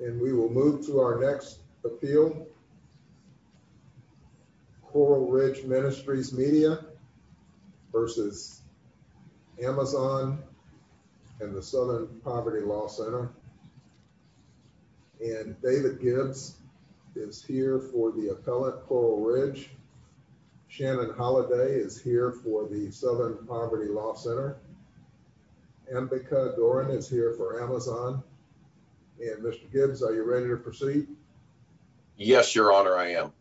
And we will move to our next appeal. Coral Ridge Ministries Media v. AMAZON and the Southern Poverty Law Center. And David Gibbs is here for the appellate Coral Ridge. Shannon Holliday is here for the Southern Poverty Law Center. Ambika Doran is here for AMAZON. And Mr. Gibbs, are you ready to proceed? Yes, your honor, I am.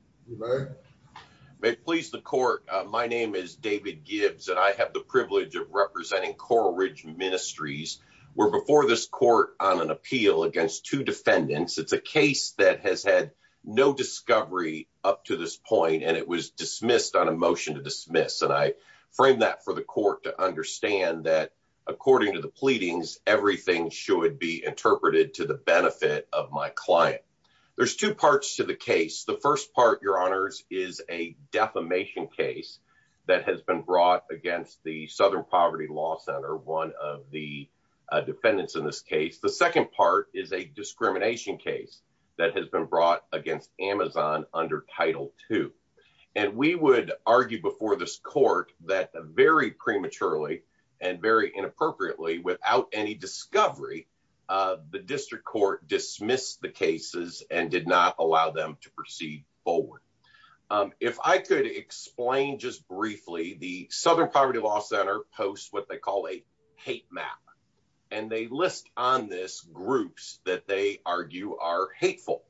May it please the court. My name is David Gibbs and I have the privilege of representing Coral Ridge Ministries. We're before this court on an appeal against two defendants. It's a case that has had no discovery up to this point and it was dismissed on a motion to dismiss. And I frame that for the court to understand that, according to the pleadings, everything should be interpreted to the benefit of my client. There's two parts to the case. The first part, your honors, is a defamation case that has been brought against the Southern Poverty Law Center, one of the defendants in this case. The second part is a discrimination case that has been brought against AMAZON under Title 2. And we would argue before this court that very prematurely and very inappropriately, without any discovery, the district court dismissed the cases and did not allow them to proceed forward. If I could explain just briefly, the Southern Poverty Law Center posts what they call a hate map. And they list on this groups that they argue are hateful.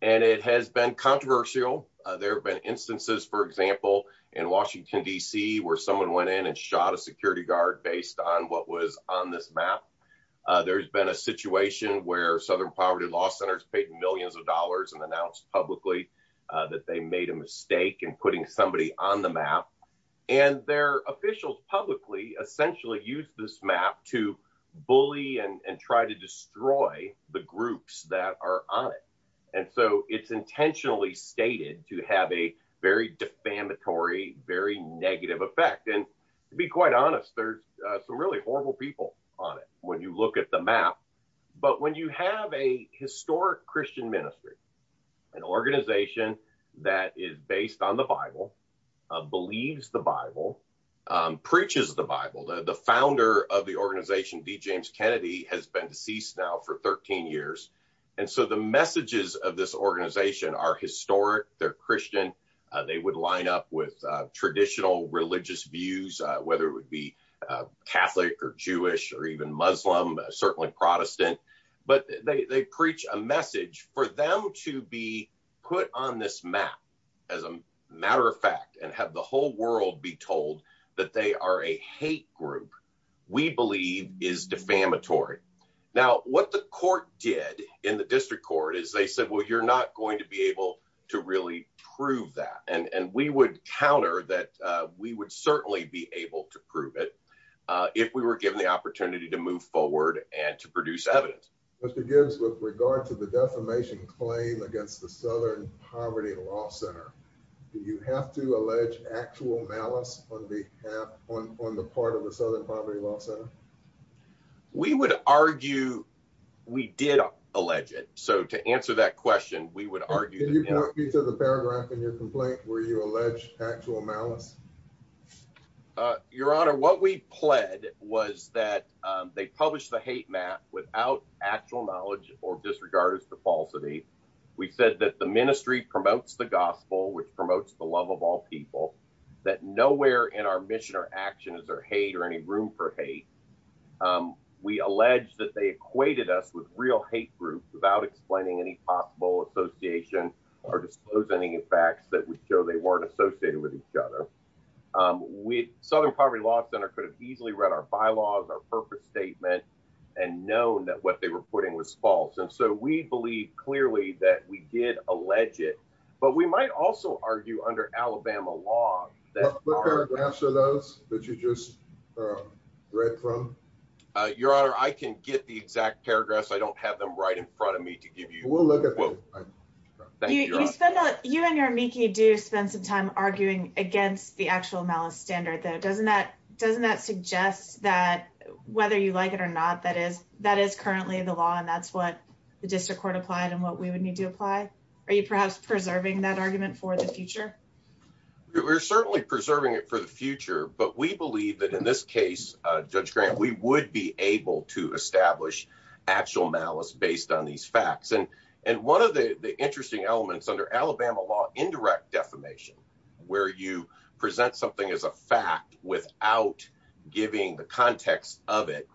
And it has been controversial. There have been instances, for example, in Washington, D.C., where someone went in and shot a security guard based on what was on this map. There's been a situation where Southern Poverty Law Center has paid millions of dollars and announced publicly that they made a mistake in putting somebody on the map. And their officials publicly essentially use this map to bully and try to destroy the groups that are on it. And so it's intentionally stated to have a very defamatory, very negative effect. And to be quite honest, there's some really horrible people on it when you look at the map. But when you have a historic Christian ministry, an organization that is based on the Bible, believes the Bible, preaches the Bible, the founder of the organization, D. James Kennedy, has been deceased now for 13 years. And so the messages of this organization are historic. They're Christian. They would line up with traditional religious views, whether it would be Catholic or Jewish or even Muslim, certainly Protestant. But they preach a message. For them to be put on this map, as a matter of fact, and have the whole world be told that they are a hate group, we believe is defamatory. Now, what the court did in the district court is they said, well, you're not going to be able to really prove that. And we would counter that we would certainly be able to prove it if we were given the opportunity to move forward and to produce evidence. Mr. Gibbs, with regard to the defamation claim against the Southern Poverty Law Center, do you have to allege actual malice on behalf, on the part of the Southern Poverty Law Center? We would argue we did allege it. So to answer that question, we would argue. Can you point me to the paragraph in your complaint where you allege actual malice? Your Honor, what we pled was that they published the hate map without actual knowledge or disregard as to falsity. We said that the ministry promotes the gospel, which promotes the love of all people, that nowhere in our mission or action is there hate or any room for hate. We allege that they equated us with real hate groups without explaining any possible association or disclosing any facts that would show they weren't associated with each other. Southern Poverty Law Center could have easily read our bylaws, our purpose statement, and known that what they were putting was false. And so we believe clearly that we did allege it. But we might also argue under Alabama law. What paragraphs are those that you just read from? Your Honor, I can get the exact paragraphs. I don't have them right in front of me to give you. You and your amici do spend some time arguing against the actual malice standard, though. Doesn't that suggest that whether you like it or not, that is currently the law and that's what the district court applied and what we would need to apply? Are you perhaps preserving that argument for the future? We're certainly preserving it for the future, but we believe that in this case, Judge Grant, we would be able to establish actual malice based on these facts. And one of the interesting elements under Alabama law, indirect defamation, where you present something as a fact without giving the context of it,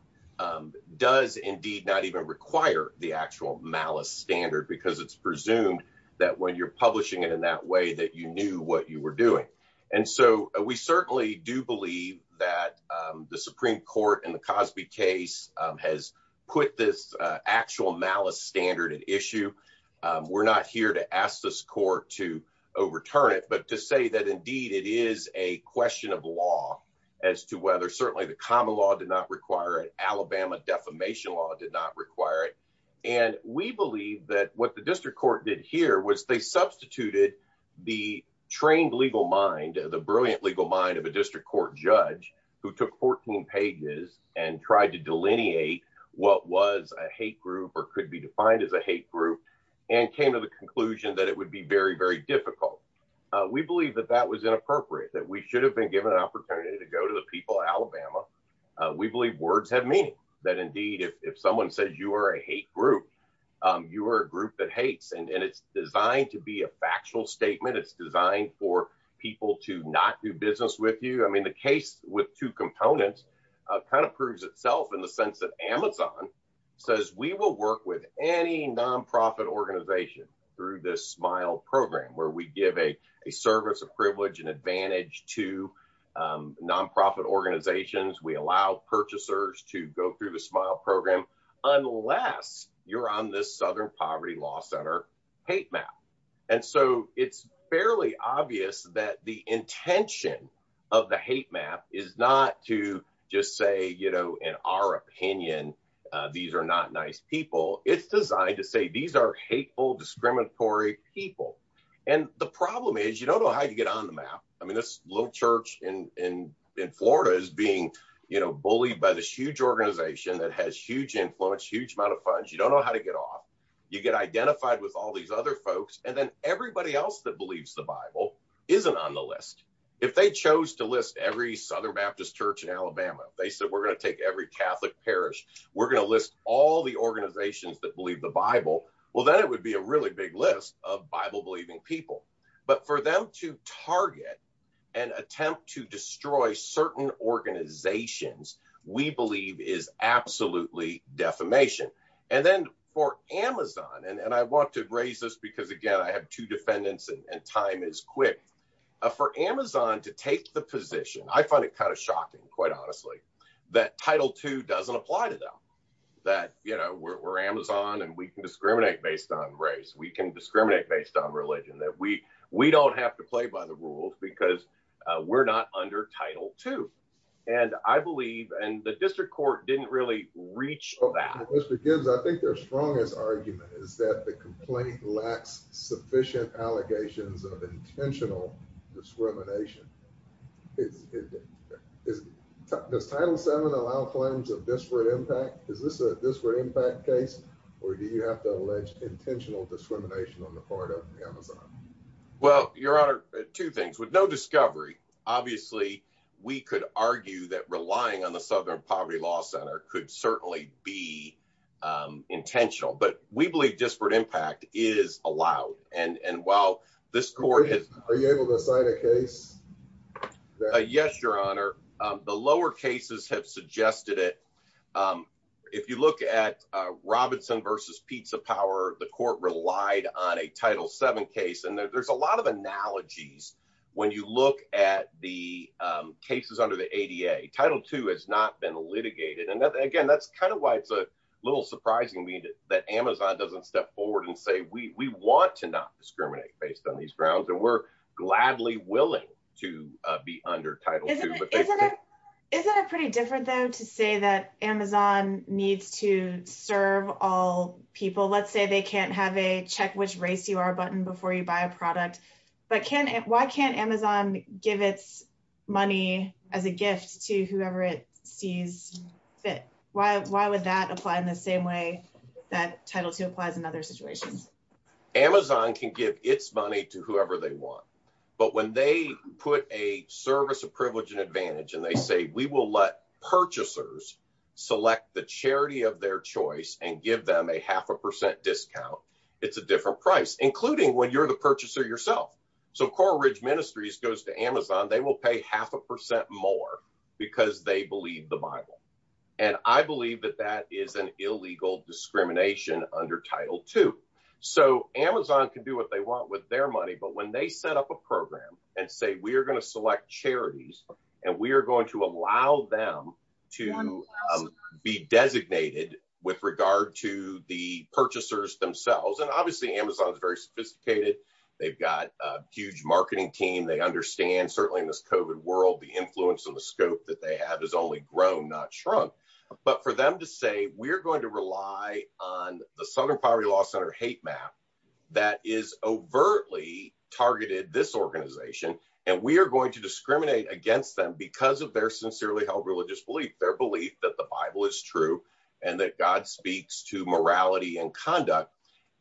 does indeed not even require the actual malice standard because it's presumed that when you're publishing it in that way, that you knew what you were doing. And so we certainly do believe that the Supreme Court in the Cosby case has put this actual malice standard at issue. We're not here to ask this court to overturn it, but to say that, indeed, it is a question of law as to whether certainly the common law did not require it. Defamation law did not require it. And we believe that what the district court did here was they substituted the trained legal mind, the brilliant legal mind of a district court judge who took 14 pages and tried to delineate what was a hate group or could be defined as a hate group and came to the conclusion that it would be very, very difficult. We believe that that was inappropriate, that we should have been given an opportunity to go to the people of Alabama. We believe words have meaning, that indeed, if someone says you are a hate group, you are a group that hates. And it's designed to be a factual statement. It's designed for people to not do business with you. I mean, the case with two components kind of proves itself in the sense that Amazon says we will work with any nonprofit organization through this SMILE program where we give a allow purchasers to go through the SMILE program unless you're on this Southern Poverty Law Center hate map. And so it's fairly obvious that the intention of the hate map is not to just say, you know, in our opinion, these are not nice people. It's designed to say these are hateful, discriminatory people. And the problem is you don't know how to get on the map. I mean, this little church in Florida is being, you know, bullied by this huge organization that has huge influence, huge amount of funds. You don't know how to get off. You get identified with all these other folks. And then everybody else that believes the Bible isn't on the list. If they chose to list every Southern Baptist church in Alabama, they said, we're going to take every Catholic parish. We're going to list all the organizations that believe the Bible. Well, then it would be a really big list of Bible believing people. But for them to target and attempt to destroy certain organizations, we believe is absolutely defamation. And then for Amazon, and I want to raise this because, again, I have two defendants and time is quick. For Amazon to take the position, I find it kind of shocking, quite honestly, that Title II doesn't apply to them. That, you know, we're Amazon and we can discriminate based on race. We can discriminate based on religion, that we don't have to play by the rules because we're not under Title II. And I believe, and the district court didn't really reach that. Mr. Gibbs, I think their strongest argument is that the complaint lacks sufficient allegations of intentional discrimination. Does Title VII allow claims of disparate impact? Is this a disparate impact case, or do you have to allege intentional discrimination on the part of Amazon? Well, Your Honor, two things. With no discovery, obviously, we could argue that relying on the Southern Poverty Law Center could certainly be intentional. But we believe disparate impact is allowed. And while this court— Are you able to cite a case? Yes, Your Honor. The lower cases have suggested it. If you look at Robinson v. Pizza Power, the court relied on a Title VII case. And there's a lot of analogies when you look at the cases under the ADA. Title II has not been litigated. And again, that's kind of why it's a little surprising to me that Amazon doesn't step forward and say, we want to not discriminate based on these grounds. And we're gladly willing to be under Title II. Isn't it pretty different, though, to say that Amazon needs to serve all people? Let's say they can't have a check which race you are button before you buy a product. But why can't Amazon give its money as a gift to whoever it sees fit? Why would that apply in the same way that Title II applies in other situations? Amazon can give its money to whoever they want. But when they put a service of privilege and advantage and they say, we will let purchasers select the charity of their choice and give them a half a percent discount, it's a different price, including when you're the purchaser yourself. So Coral Ridge Ministries goes to Amazon. They will pay half a percent more because they believe the Bible. And I believe that that is an illegal discrimination under Title II. So Amazon can do what they want with their money. But when they set up a program and say, we are going to select charities and we are going to allow them to be designated with regard to the purchasers themselves. And obviously, Amazon is very sophisticated. They've got a huge marketing team. They understand certainly in this COVID world, the influence and the scope that they have is only grown, not shrunk. But for them to say, we're going to rely on the Southern Poverty Law Center hate map that is overtly targeted this organization, and we are going to discriminate against them because of their sincerely held religious belief, their belief that the Bible is true and that God speaks to morality and conduct.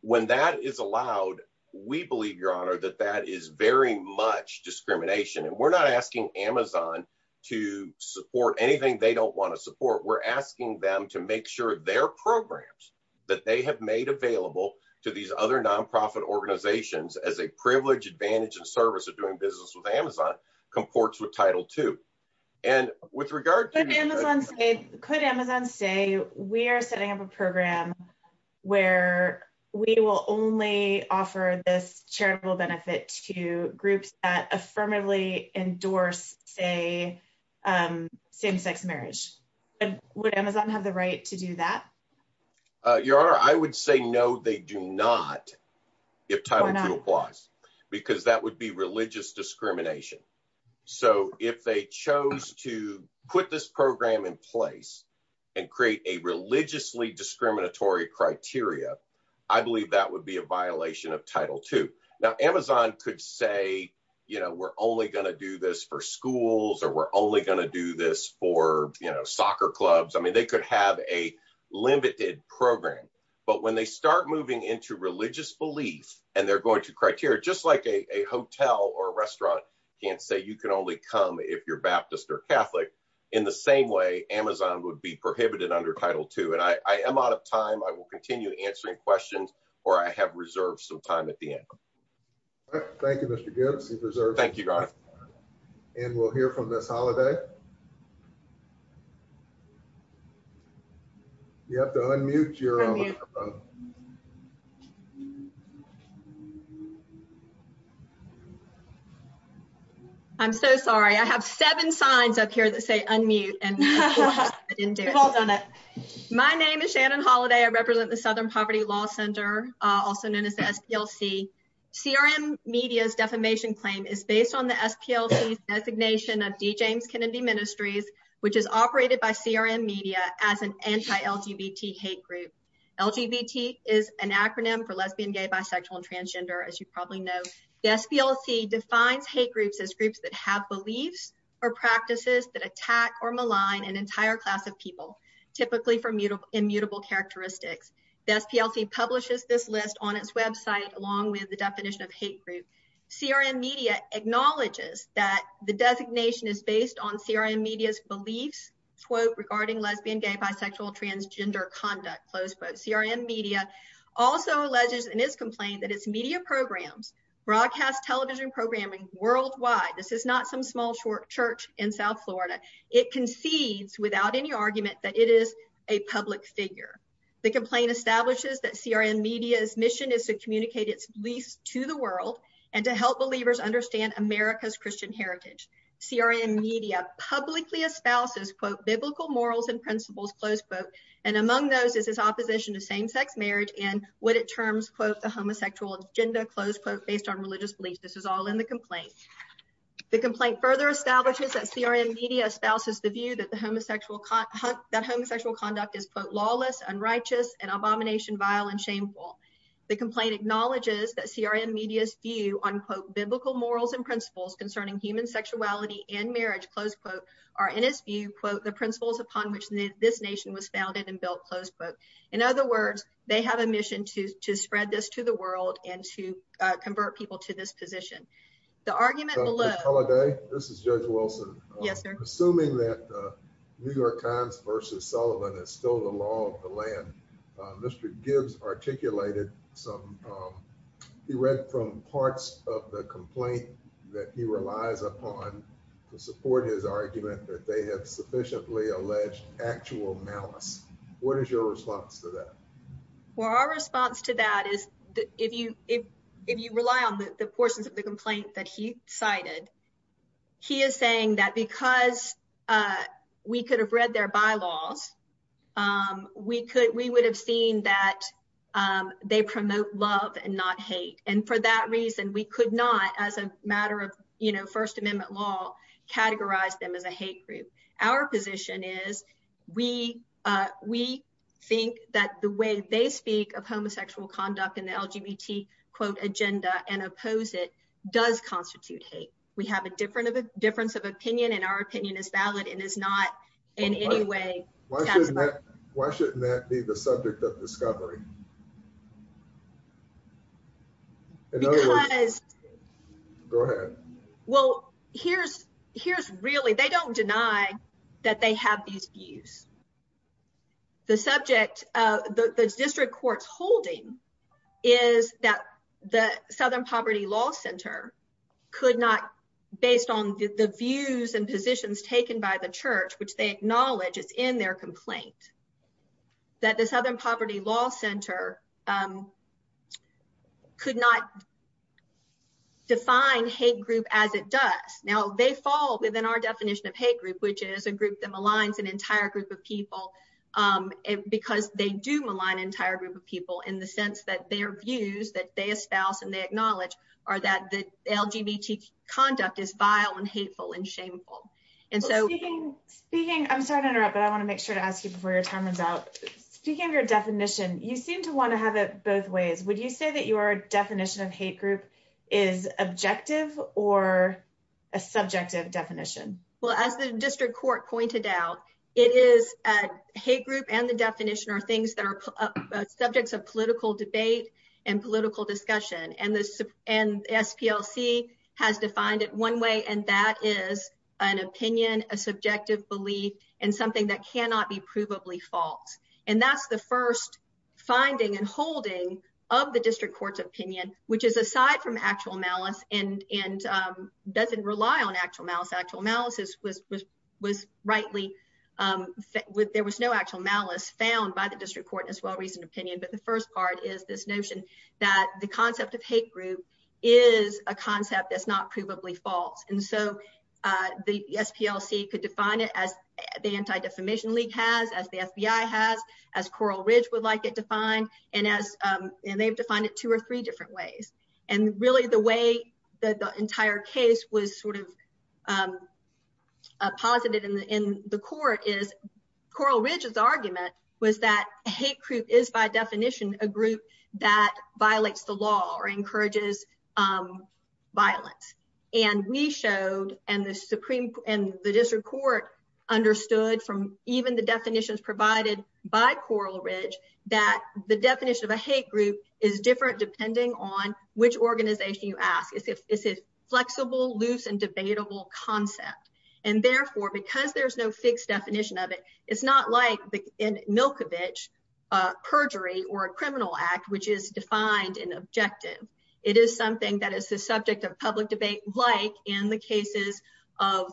When that is allowed, we believe, Your Honor, that that is very much discrimination. And we're not asking Amazon to support anything they don't want to support. We're asking them to make sure their programs that they have made available to these other nonprofit organizations as a privilege, advantage, and service of doing business with Amazon comports with Title II. And with regard to- Could Amazon say, we are setting up a program where we will only offer this charitable benefit to groups that affirmatively endorse, say, same-sex marriage. Would Amazon have the right to do that? Your Honor, I would say, no, they do not, if Title II applies, because that would be religious discrimination. So if they chose to put this program in place and create a religiously discriminatory criteria, I believe that would be a violation of Title II. Now, Amazon could say, we're only going to do this for schools, or we're only going to do this for soccer clubs. They could have a limited program. But when they start moving into religious belief, and they're going to criteria, just like a hotel or a restaurant can't say you can only come if you're Baptist or Catholic, in the same way, Amazon would be prohibited under Title II. And I am out of time. I will continue answering questions, or I have reserved some time at the end. All right. Thank you, Mr. Gibbs. He's reserved. Thank you, Your Honor. And we'll hear from Miss Holliday. You have to unmute, Your Honor. Unmute. I'm so sorry. I have seven signs up here that say unmute, and I didn't do it. You've all done it. My name is Shannon Holliday. I represent the Southern Poverty Law Center, also known as the SPLC. CRM Media's defamation claim is based on the SPLC's designation of D. James Kennedy Ministries, which is operated by CRM Media as an anti-LGBT hate group. LGBT is an acronym for lesbian, gay, bisexual, and transgender, as you probably know. The SPLC defines hate groups as groups that have beliefs or practices that attack or malign an entire class of people, typically for immutable characteristics. The SPLC publishes this list on its website, along with the definition of hate group. CRM Media acknowledges that the designation is based on CRM Media's beliefs, quote, regarding lesbian, gay, bisexual, transgender conduct, close quote. CRM Media also alleges in its complaint that its media programs broadcast television programming worldwide. This is not some small church in South Florida. It concedes without any argument that it is a public figure. The complaint establishes that CRM Media's mission is to communicate its beliefs to the and to help believers understand America's Christian heritage. CRM Media publicly espouses, quote, biblical morals and principles, close quote, and among those is its opposition to same-sex marriage and what it terms, quote, the homosexual agenda, close quote, based on religious beliefs. This is all in the complaint. The complaint further establishes that CRM Media espouses the view that homosexual conduct is, quote, lawless, unrighteous, and abomination, vile, and shameful. The complaint acknowledges that CRM Media's view on, quote, biblical morals and principles concerning human sexuality and marriage, close quote, are in its view, quote, the principles upon which this nation was founded and built, close quote. In other words, they have a mission to spread this to the world and to convert people to this position. The argument below- Judge Holliday, this is Judge Wilson. Yes, sir. Assuming that New York Times versus Sullivan is still the law of the land, Mr. Gibbs articulated some, he read from parts of the complaint that he relies upon to support his argument that they have sufficiently alleged actual malice. What is your response to that? Well, our response to that is that if you rely on the portions of the complaint that he cited, he is saying that because we could have read their bylaws, we would have seen that they promote love and not hate. And for that reason, we could not, as a matter of, you know, First Amendment law, categorize them as a hate group. Our position is we think that the way they speak of homosexual conduct in the LGBT, quote, agenda and oppose it does constitute hate. We have a difference of opinion and our opinion is valid and is not in any way- Why shouldn't that be the subject of discovery? Go ahead. Well, here's really, they don't deny that they have these views. The subject, the district court's holding is that the Southern Poverty Law Center could not, based on the views and positions taken by the church, which they acknowledge is in their complaint, that the Southern Poverty Law Center could not define hate group as it does. Now, they fall within our definition of hate group, which is a group that maligns an entire group of people because they do malign an entire group of people in the sense that their views that they espouse and they acknowledge are that the LGBT conduct is vile and hateful and shameful. And so- Speaking, I'm sorry to interrupt, but I want to make sure to ask you before your time runs out. Speaking of your definition, you seem to want to have it both ways. Would you say that your definition of hate group is objective or a subjective definition? Well, as the district court pointed out, it is a hate group and the definition are things that are subjects of political debate and political discussion. And SPLC has defined it one way, and that is an opinion, a subjective belief, and something that cannot be provably false. And that's the first finding and holding of the district court's opinion, which is aside from actual malice and doesn't rely on actual malice. Actual malice was rightly- There was no actual malice found by the district court as well reasoned opinion. But the first part is this notion that the concept of hate group is a concept that's not provably false. And so the SPLC could define it as the Anti-Defamation League has, as the FBI has, as Coral Ridge would like it defined, and they've defined it two or three different ways. And really the way that the entire case was sort of posited in the court is Coral Ridge's by definition a group that violates the law or encourages violence. And we showed, and the district court understood from even the definitions provided by Coral Ridge, that the definition of a hate group is different depending on which organization you ask. It's a flexible, loose, and debatable concept. And therefore, because there's no fixed definition of it, it's not like the Milkovich perjury or a criminal act, which is defined in objective. It is something that is the subject of public debate, like in the cases of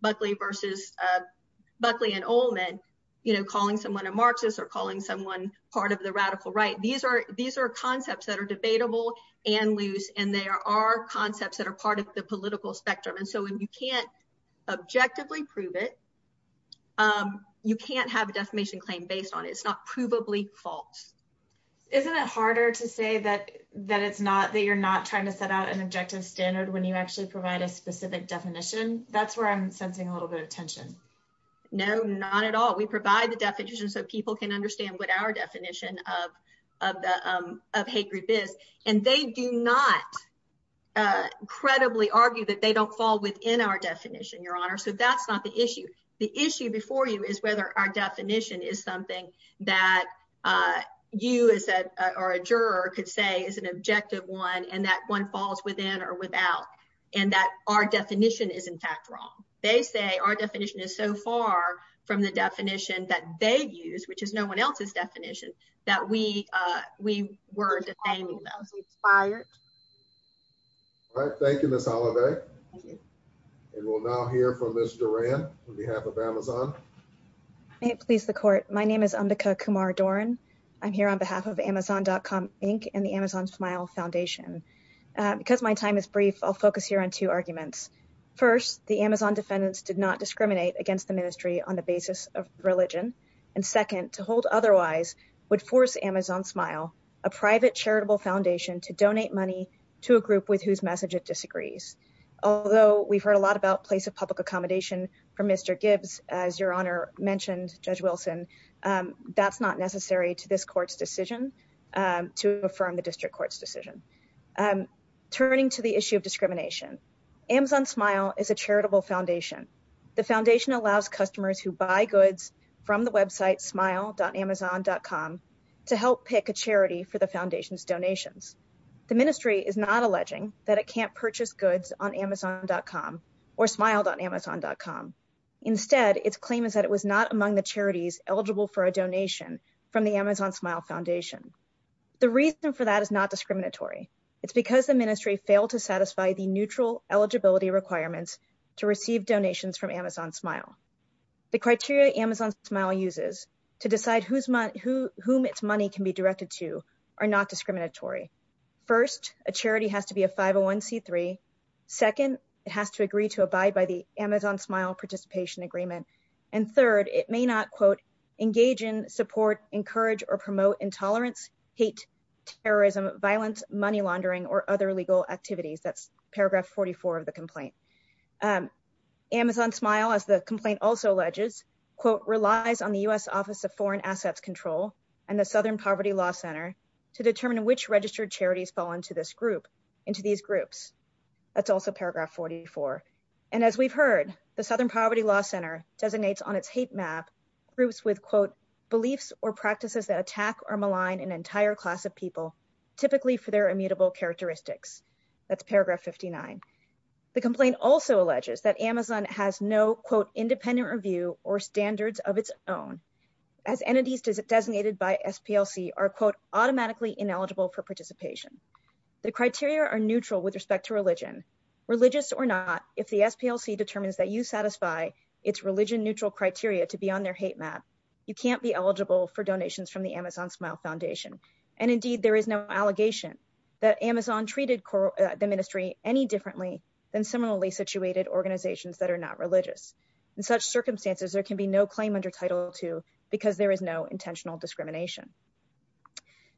Buckley and Olman, calling someone a Marxist or calling someone part of the radical right. These are concepts that are debatable and loose, and they are concepts that are part of the political spectrum. And so when you can't objectively prove it, you can't have a defamation claim based on it. It's not provably false. Isn't it harder to say that you're not trying to set out an objective standard when you actually provide a specific definition? That's where I'm sensing a little bit of tension. No, not at all. We provide the definition so people can understand what our definition of hate group is. And they do not credibly argue that they don't fall within our definition, Your Honor. So that's not the issue. The issue before you is whether our definition is something that you or a juror could say is an objective one and that one falls within or without and that our definition is, in fact, wrong. They say our definition is so far from the definition that they use, which is no one else's definition, that we were defaming them. All right. Thank you, Ms. Oliver. And we'll now hear from Ms. Duran on behalf of Amazon. May it please the court. My name is Ambika Kumar Duran. I'm here on behalf of Amazon.com Inc. and the Amazon Smile Foundation. Because my time is brief, I'll focus here on two arguments. First, the Amazon defendants did not discriminate against the ministry on the basis of would force Amazon Smile, a private charitable foundation, to donate money to a group with whose message it disagrees. Although we've heard a lot about place of public accommodation from Mr. Gibbs, as Your Honor mentioned, Judge Wilson, that's not necessary to this court's decision to affirm the district court's decision. Turning to the issue of discrimination, Amazon Smile is a charitable foundation. The foundation allows customers who buy goods from the website smile.amazon.com to help pick a charity for the foundation's donations. The ministry is not alleging that it can't purchase goods on Amazon.com or smile.amazon.com. Instead, its claim is that it was not among the charities eligible for a donation from the Amazon Smile Foundation. The reason for that is not discriminatory. It's because the ministry failed to satisfy the neutral eligibility requirements to receive donations from Amazon Smile. The criteria Amazon Smile uses to decide whom its money can be directed to are not discriminatory. First, a charity has to be a 501c3. Second, it has to agree to abide by the Amazon Smile participation agreement. And third, it may not, quote, engage in, support, encourage, or promote intolerance, hate, terrorism, violence, money laundering, or other legal activities. That's paragraph 44 of the complaint. Amazon Smile, as the complaint also alleges, quote, relies on the U.S. Office of Foreign Assets Control and the Southern Poverty Law Center to determine which registered charities fall into this group, into these groups. That's also paragraph 44. And as we've heard, the Southern Poverty Law Center designates on its hate map groups with, quote, beliefs or practices that attack or malign an entire class of people, typically for their immutable characteristics. That's paragraph 59. The complaint also alleges that Amazon has no, quote, independent review or standards of its own, as entities designated by SPLC are, quote, automatically ineligible for participation. The criteria are neutral with respect to religion. Religious or not, if the SPLC determines that you satisfy its religion-neutral criteria to be on their hate map, you can't be eligible for donations from the Amazon Smile Foundation. And indeed, there is no allegation that Amazon treated the ministry any differently than similarly situated organizations that are not religious. In such circumstances, there can be no claim under Title II because there is no intentional discrimination.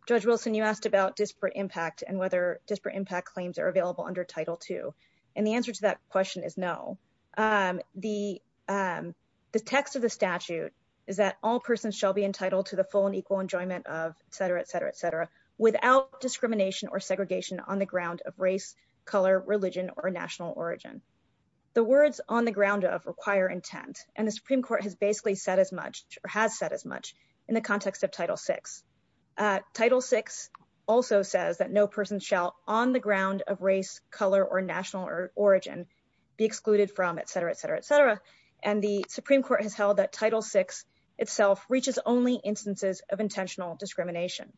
Judge Wilson, you asked about disparate impact and whether disparate impact claims are available under Title II. And the answer to that question is no. The text of the statute is that all persons shall be entitled to the full and equal enjoyment of, et cetera, et cetera, et cetera, without discrimination or segregation on the ground of race, color, religion, or national origin. The words on the ground of require intent. And the Supreme Court has basically said as much or has said as much in the context of Title VI. Title VI also says that no person shall on the ground of race, color, or national origin be excluded from, et cetera, et cetera, et cetera. And the Supreme Court has held that Title VI itself reaches only instances of intentional discrimination.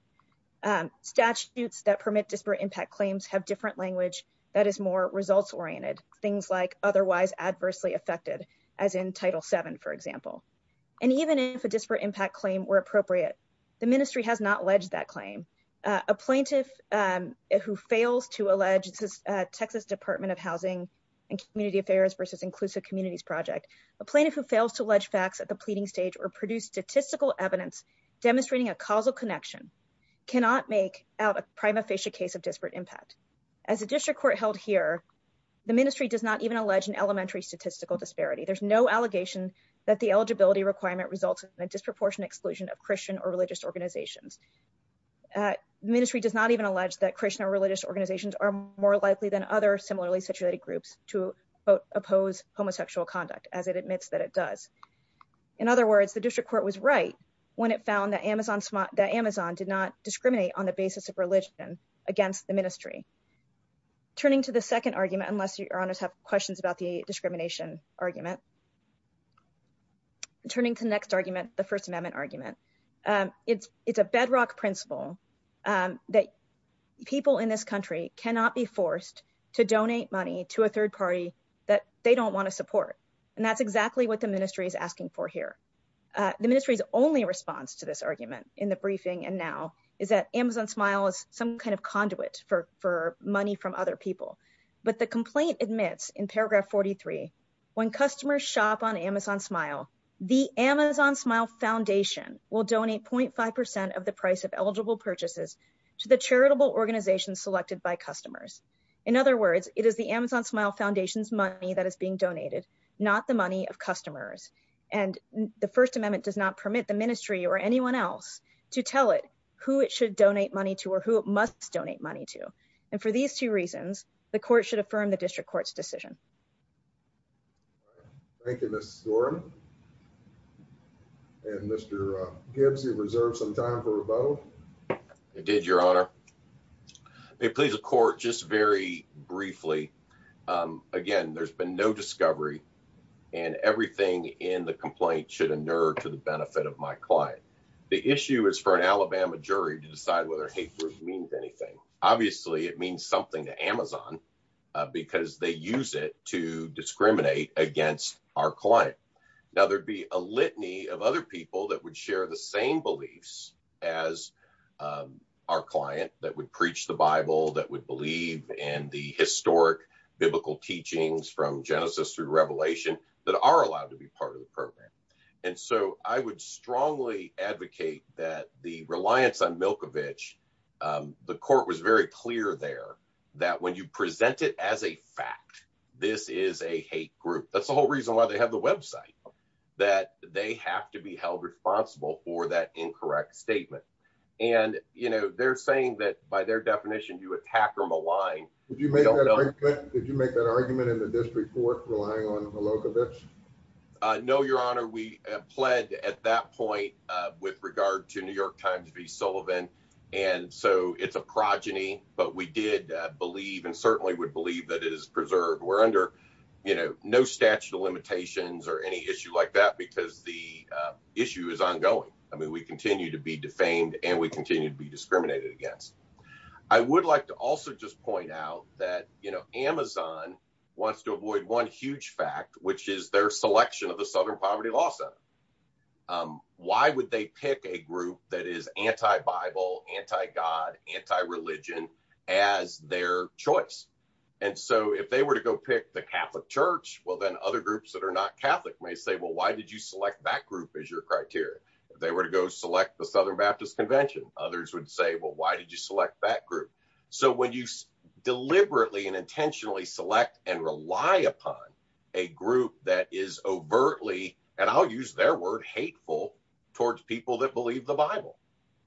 Statutes that permit disparate impact claims have different language that is more results oriented, things like otherwise adversely affected, as in Title VII, for example. And even if a disparate impact claim were appropriate, the ministry has not alleged that claim. A plaintiff who fails to allege the Texas Department of Housing and Community Affairs Inclusive Communities Project, a plaintiff who fails to allege facts at the pleading stage or produce statistical evidence demonstrating a causal connection cannot make out a prima facie case of disparate impact. As a district court held here, the ministry does not even allege an elementary statistical disparity. There's no allegation that the eligibility requirement results in a disproportionate exclusion of Christian or religious organizations. The ministry does not even allege that Christian or religious organizations are more likely than other similarly situated groups to oppose homosexual conduct, as it admits that it does. In other words, the district court was right when it found that Amazon did not discriminate on the basis of religion against the ministry. Turning to the second argument, unless your honors have questions about the discrimination argument, turning to the next argument, the First Amendment argument, it's a bedrock principle that people in this country cannot be forced to donate money to a third party that they don't want to support. And that's exactly what the ministry is asking for here. The ministry's only response to this argument in the briefing and now is that Amazon Smile is some kind of conduit for money from other people. But the complaint admits in paragraph 43, when customers shop on Amazon Smile, the Amazon eligible purchases to the charitable organization selected by customers. In other words, it is the Amazon Smile Foundation's money that is being donated, not the money of customers. And the First Amendment does not permit the ministry or anyone else to tell it who it should donate money to or who it must donate money to. And for these two reasons, the court should affirm the district court's decision. Thank you, Ms. Doran. And Mr. Gibbs, you reserve some time for rebuttal. I did, your honor. It please the court just very briefly. Again, there's been no discovery and everything in the complaint should inert to the benefit of my client. The issue is for an Alabama jury to decide whether it means anything. Obviously, it means something to Amazon because they use it to discriminate against our client. Now, there'd be a litany of other people that would share the same beliefs as our client that would preach the Bible, that would believe in the historic biblical teachings from Genesis through Revelation that are allowed to be part of the program. And so I would strongly advocate that the reliance on Milkovich, the court was very clear there that when you present it as a fact, this is a hate group. That's the whole reason why they have the website, that they have to be held responsible for that incorrect statement. And they're saying that by their definition, you attack or malign. Did you make that argument in the district court relying on Milkovich? No, your honor. We pled at that point with regard to New York Times v. Sullivan. And so it's a progeny. But we did believe and certainly would believe that it is preserved. We're under no statute of limitations or any issue like that because the issue is ongoing. I mean, we continue to be defamed and we continue to be discriminated against. I would like to also just point out that Amazon wants to avoid one huge fact, which is their selection of the Southern Poverty Law Center. Why would they pick a group that is anti-Bible, anti-God, anti-religion as their choice? And so if they were to go pick the Catholic Church, well, then other groups that are not Catholic may say, well, why did you select that group as your criteria? If they were to go select the Southern Baptist Convention, others would say, well, why did you select that group? So when you deliberately and intentionally select and rely upon a group that is overtly, and I'll use their word, hateful towards people that believe the Bible.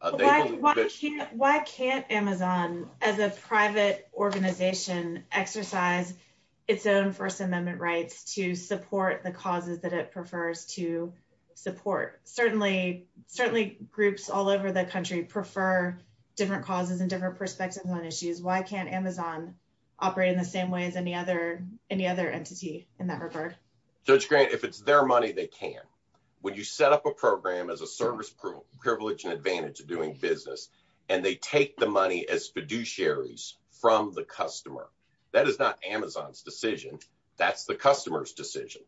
Why can't Amazon as a private organization exercise its own First Amendment rights to support the causes that it prefers to support? Certainly, groups all over the country prefer different causes and different perspectives on issues. Why can't Amazon operate in the same way as any other entity in that regard? Judge Grant, if it's their money, they can. When you set up a program as a service privilege and advantage of doing business and they take the money as fiduciaries from the customer, that is not Amazon's decision. That's the customer's decision.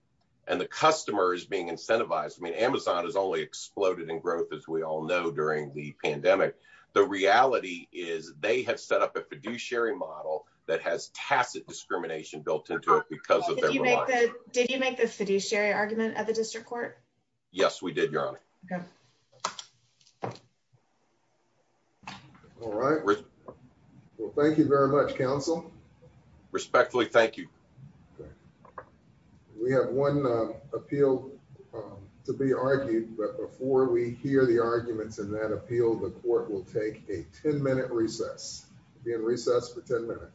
And the customer is being incentivized. I mean, Amazon has only exploded in growth, as we all know, during the pandemic. The reality is they have set up a fiduciary model that has tacit discrimination built into it because of their reliance. Did you make the fiduciary argument at the district court? Yes, we did, Your Honor. All right. Well, thank you very much, counsel. Respectfully, thank you. We have one appeal to be argued. But before we hear the arguments in that appeal, the court will take a 10 minute recess. We'll be in recess for 10 minutes.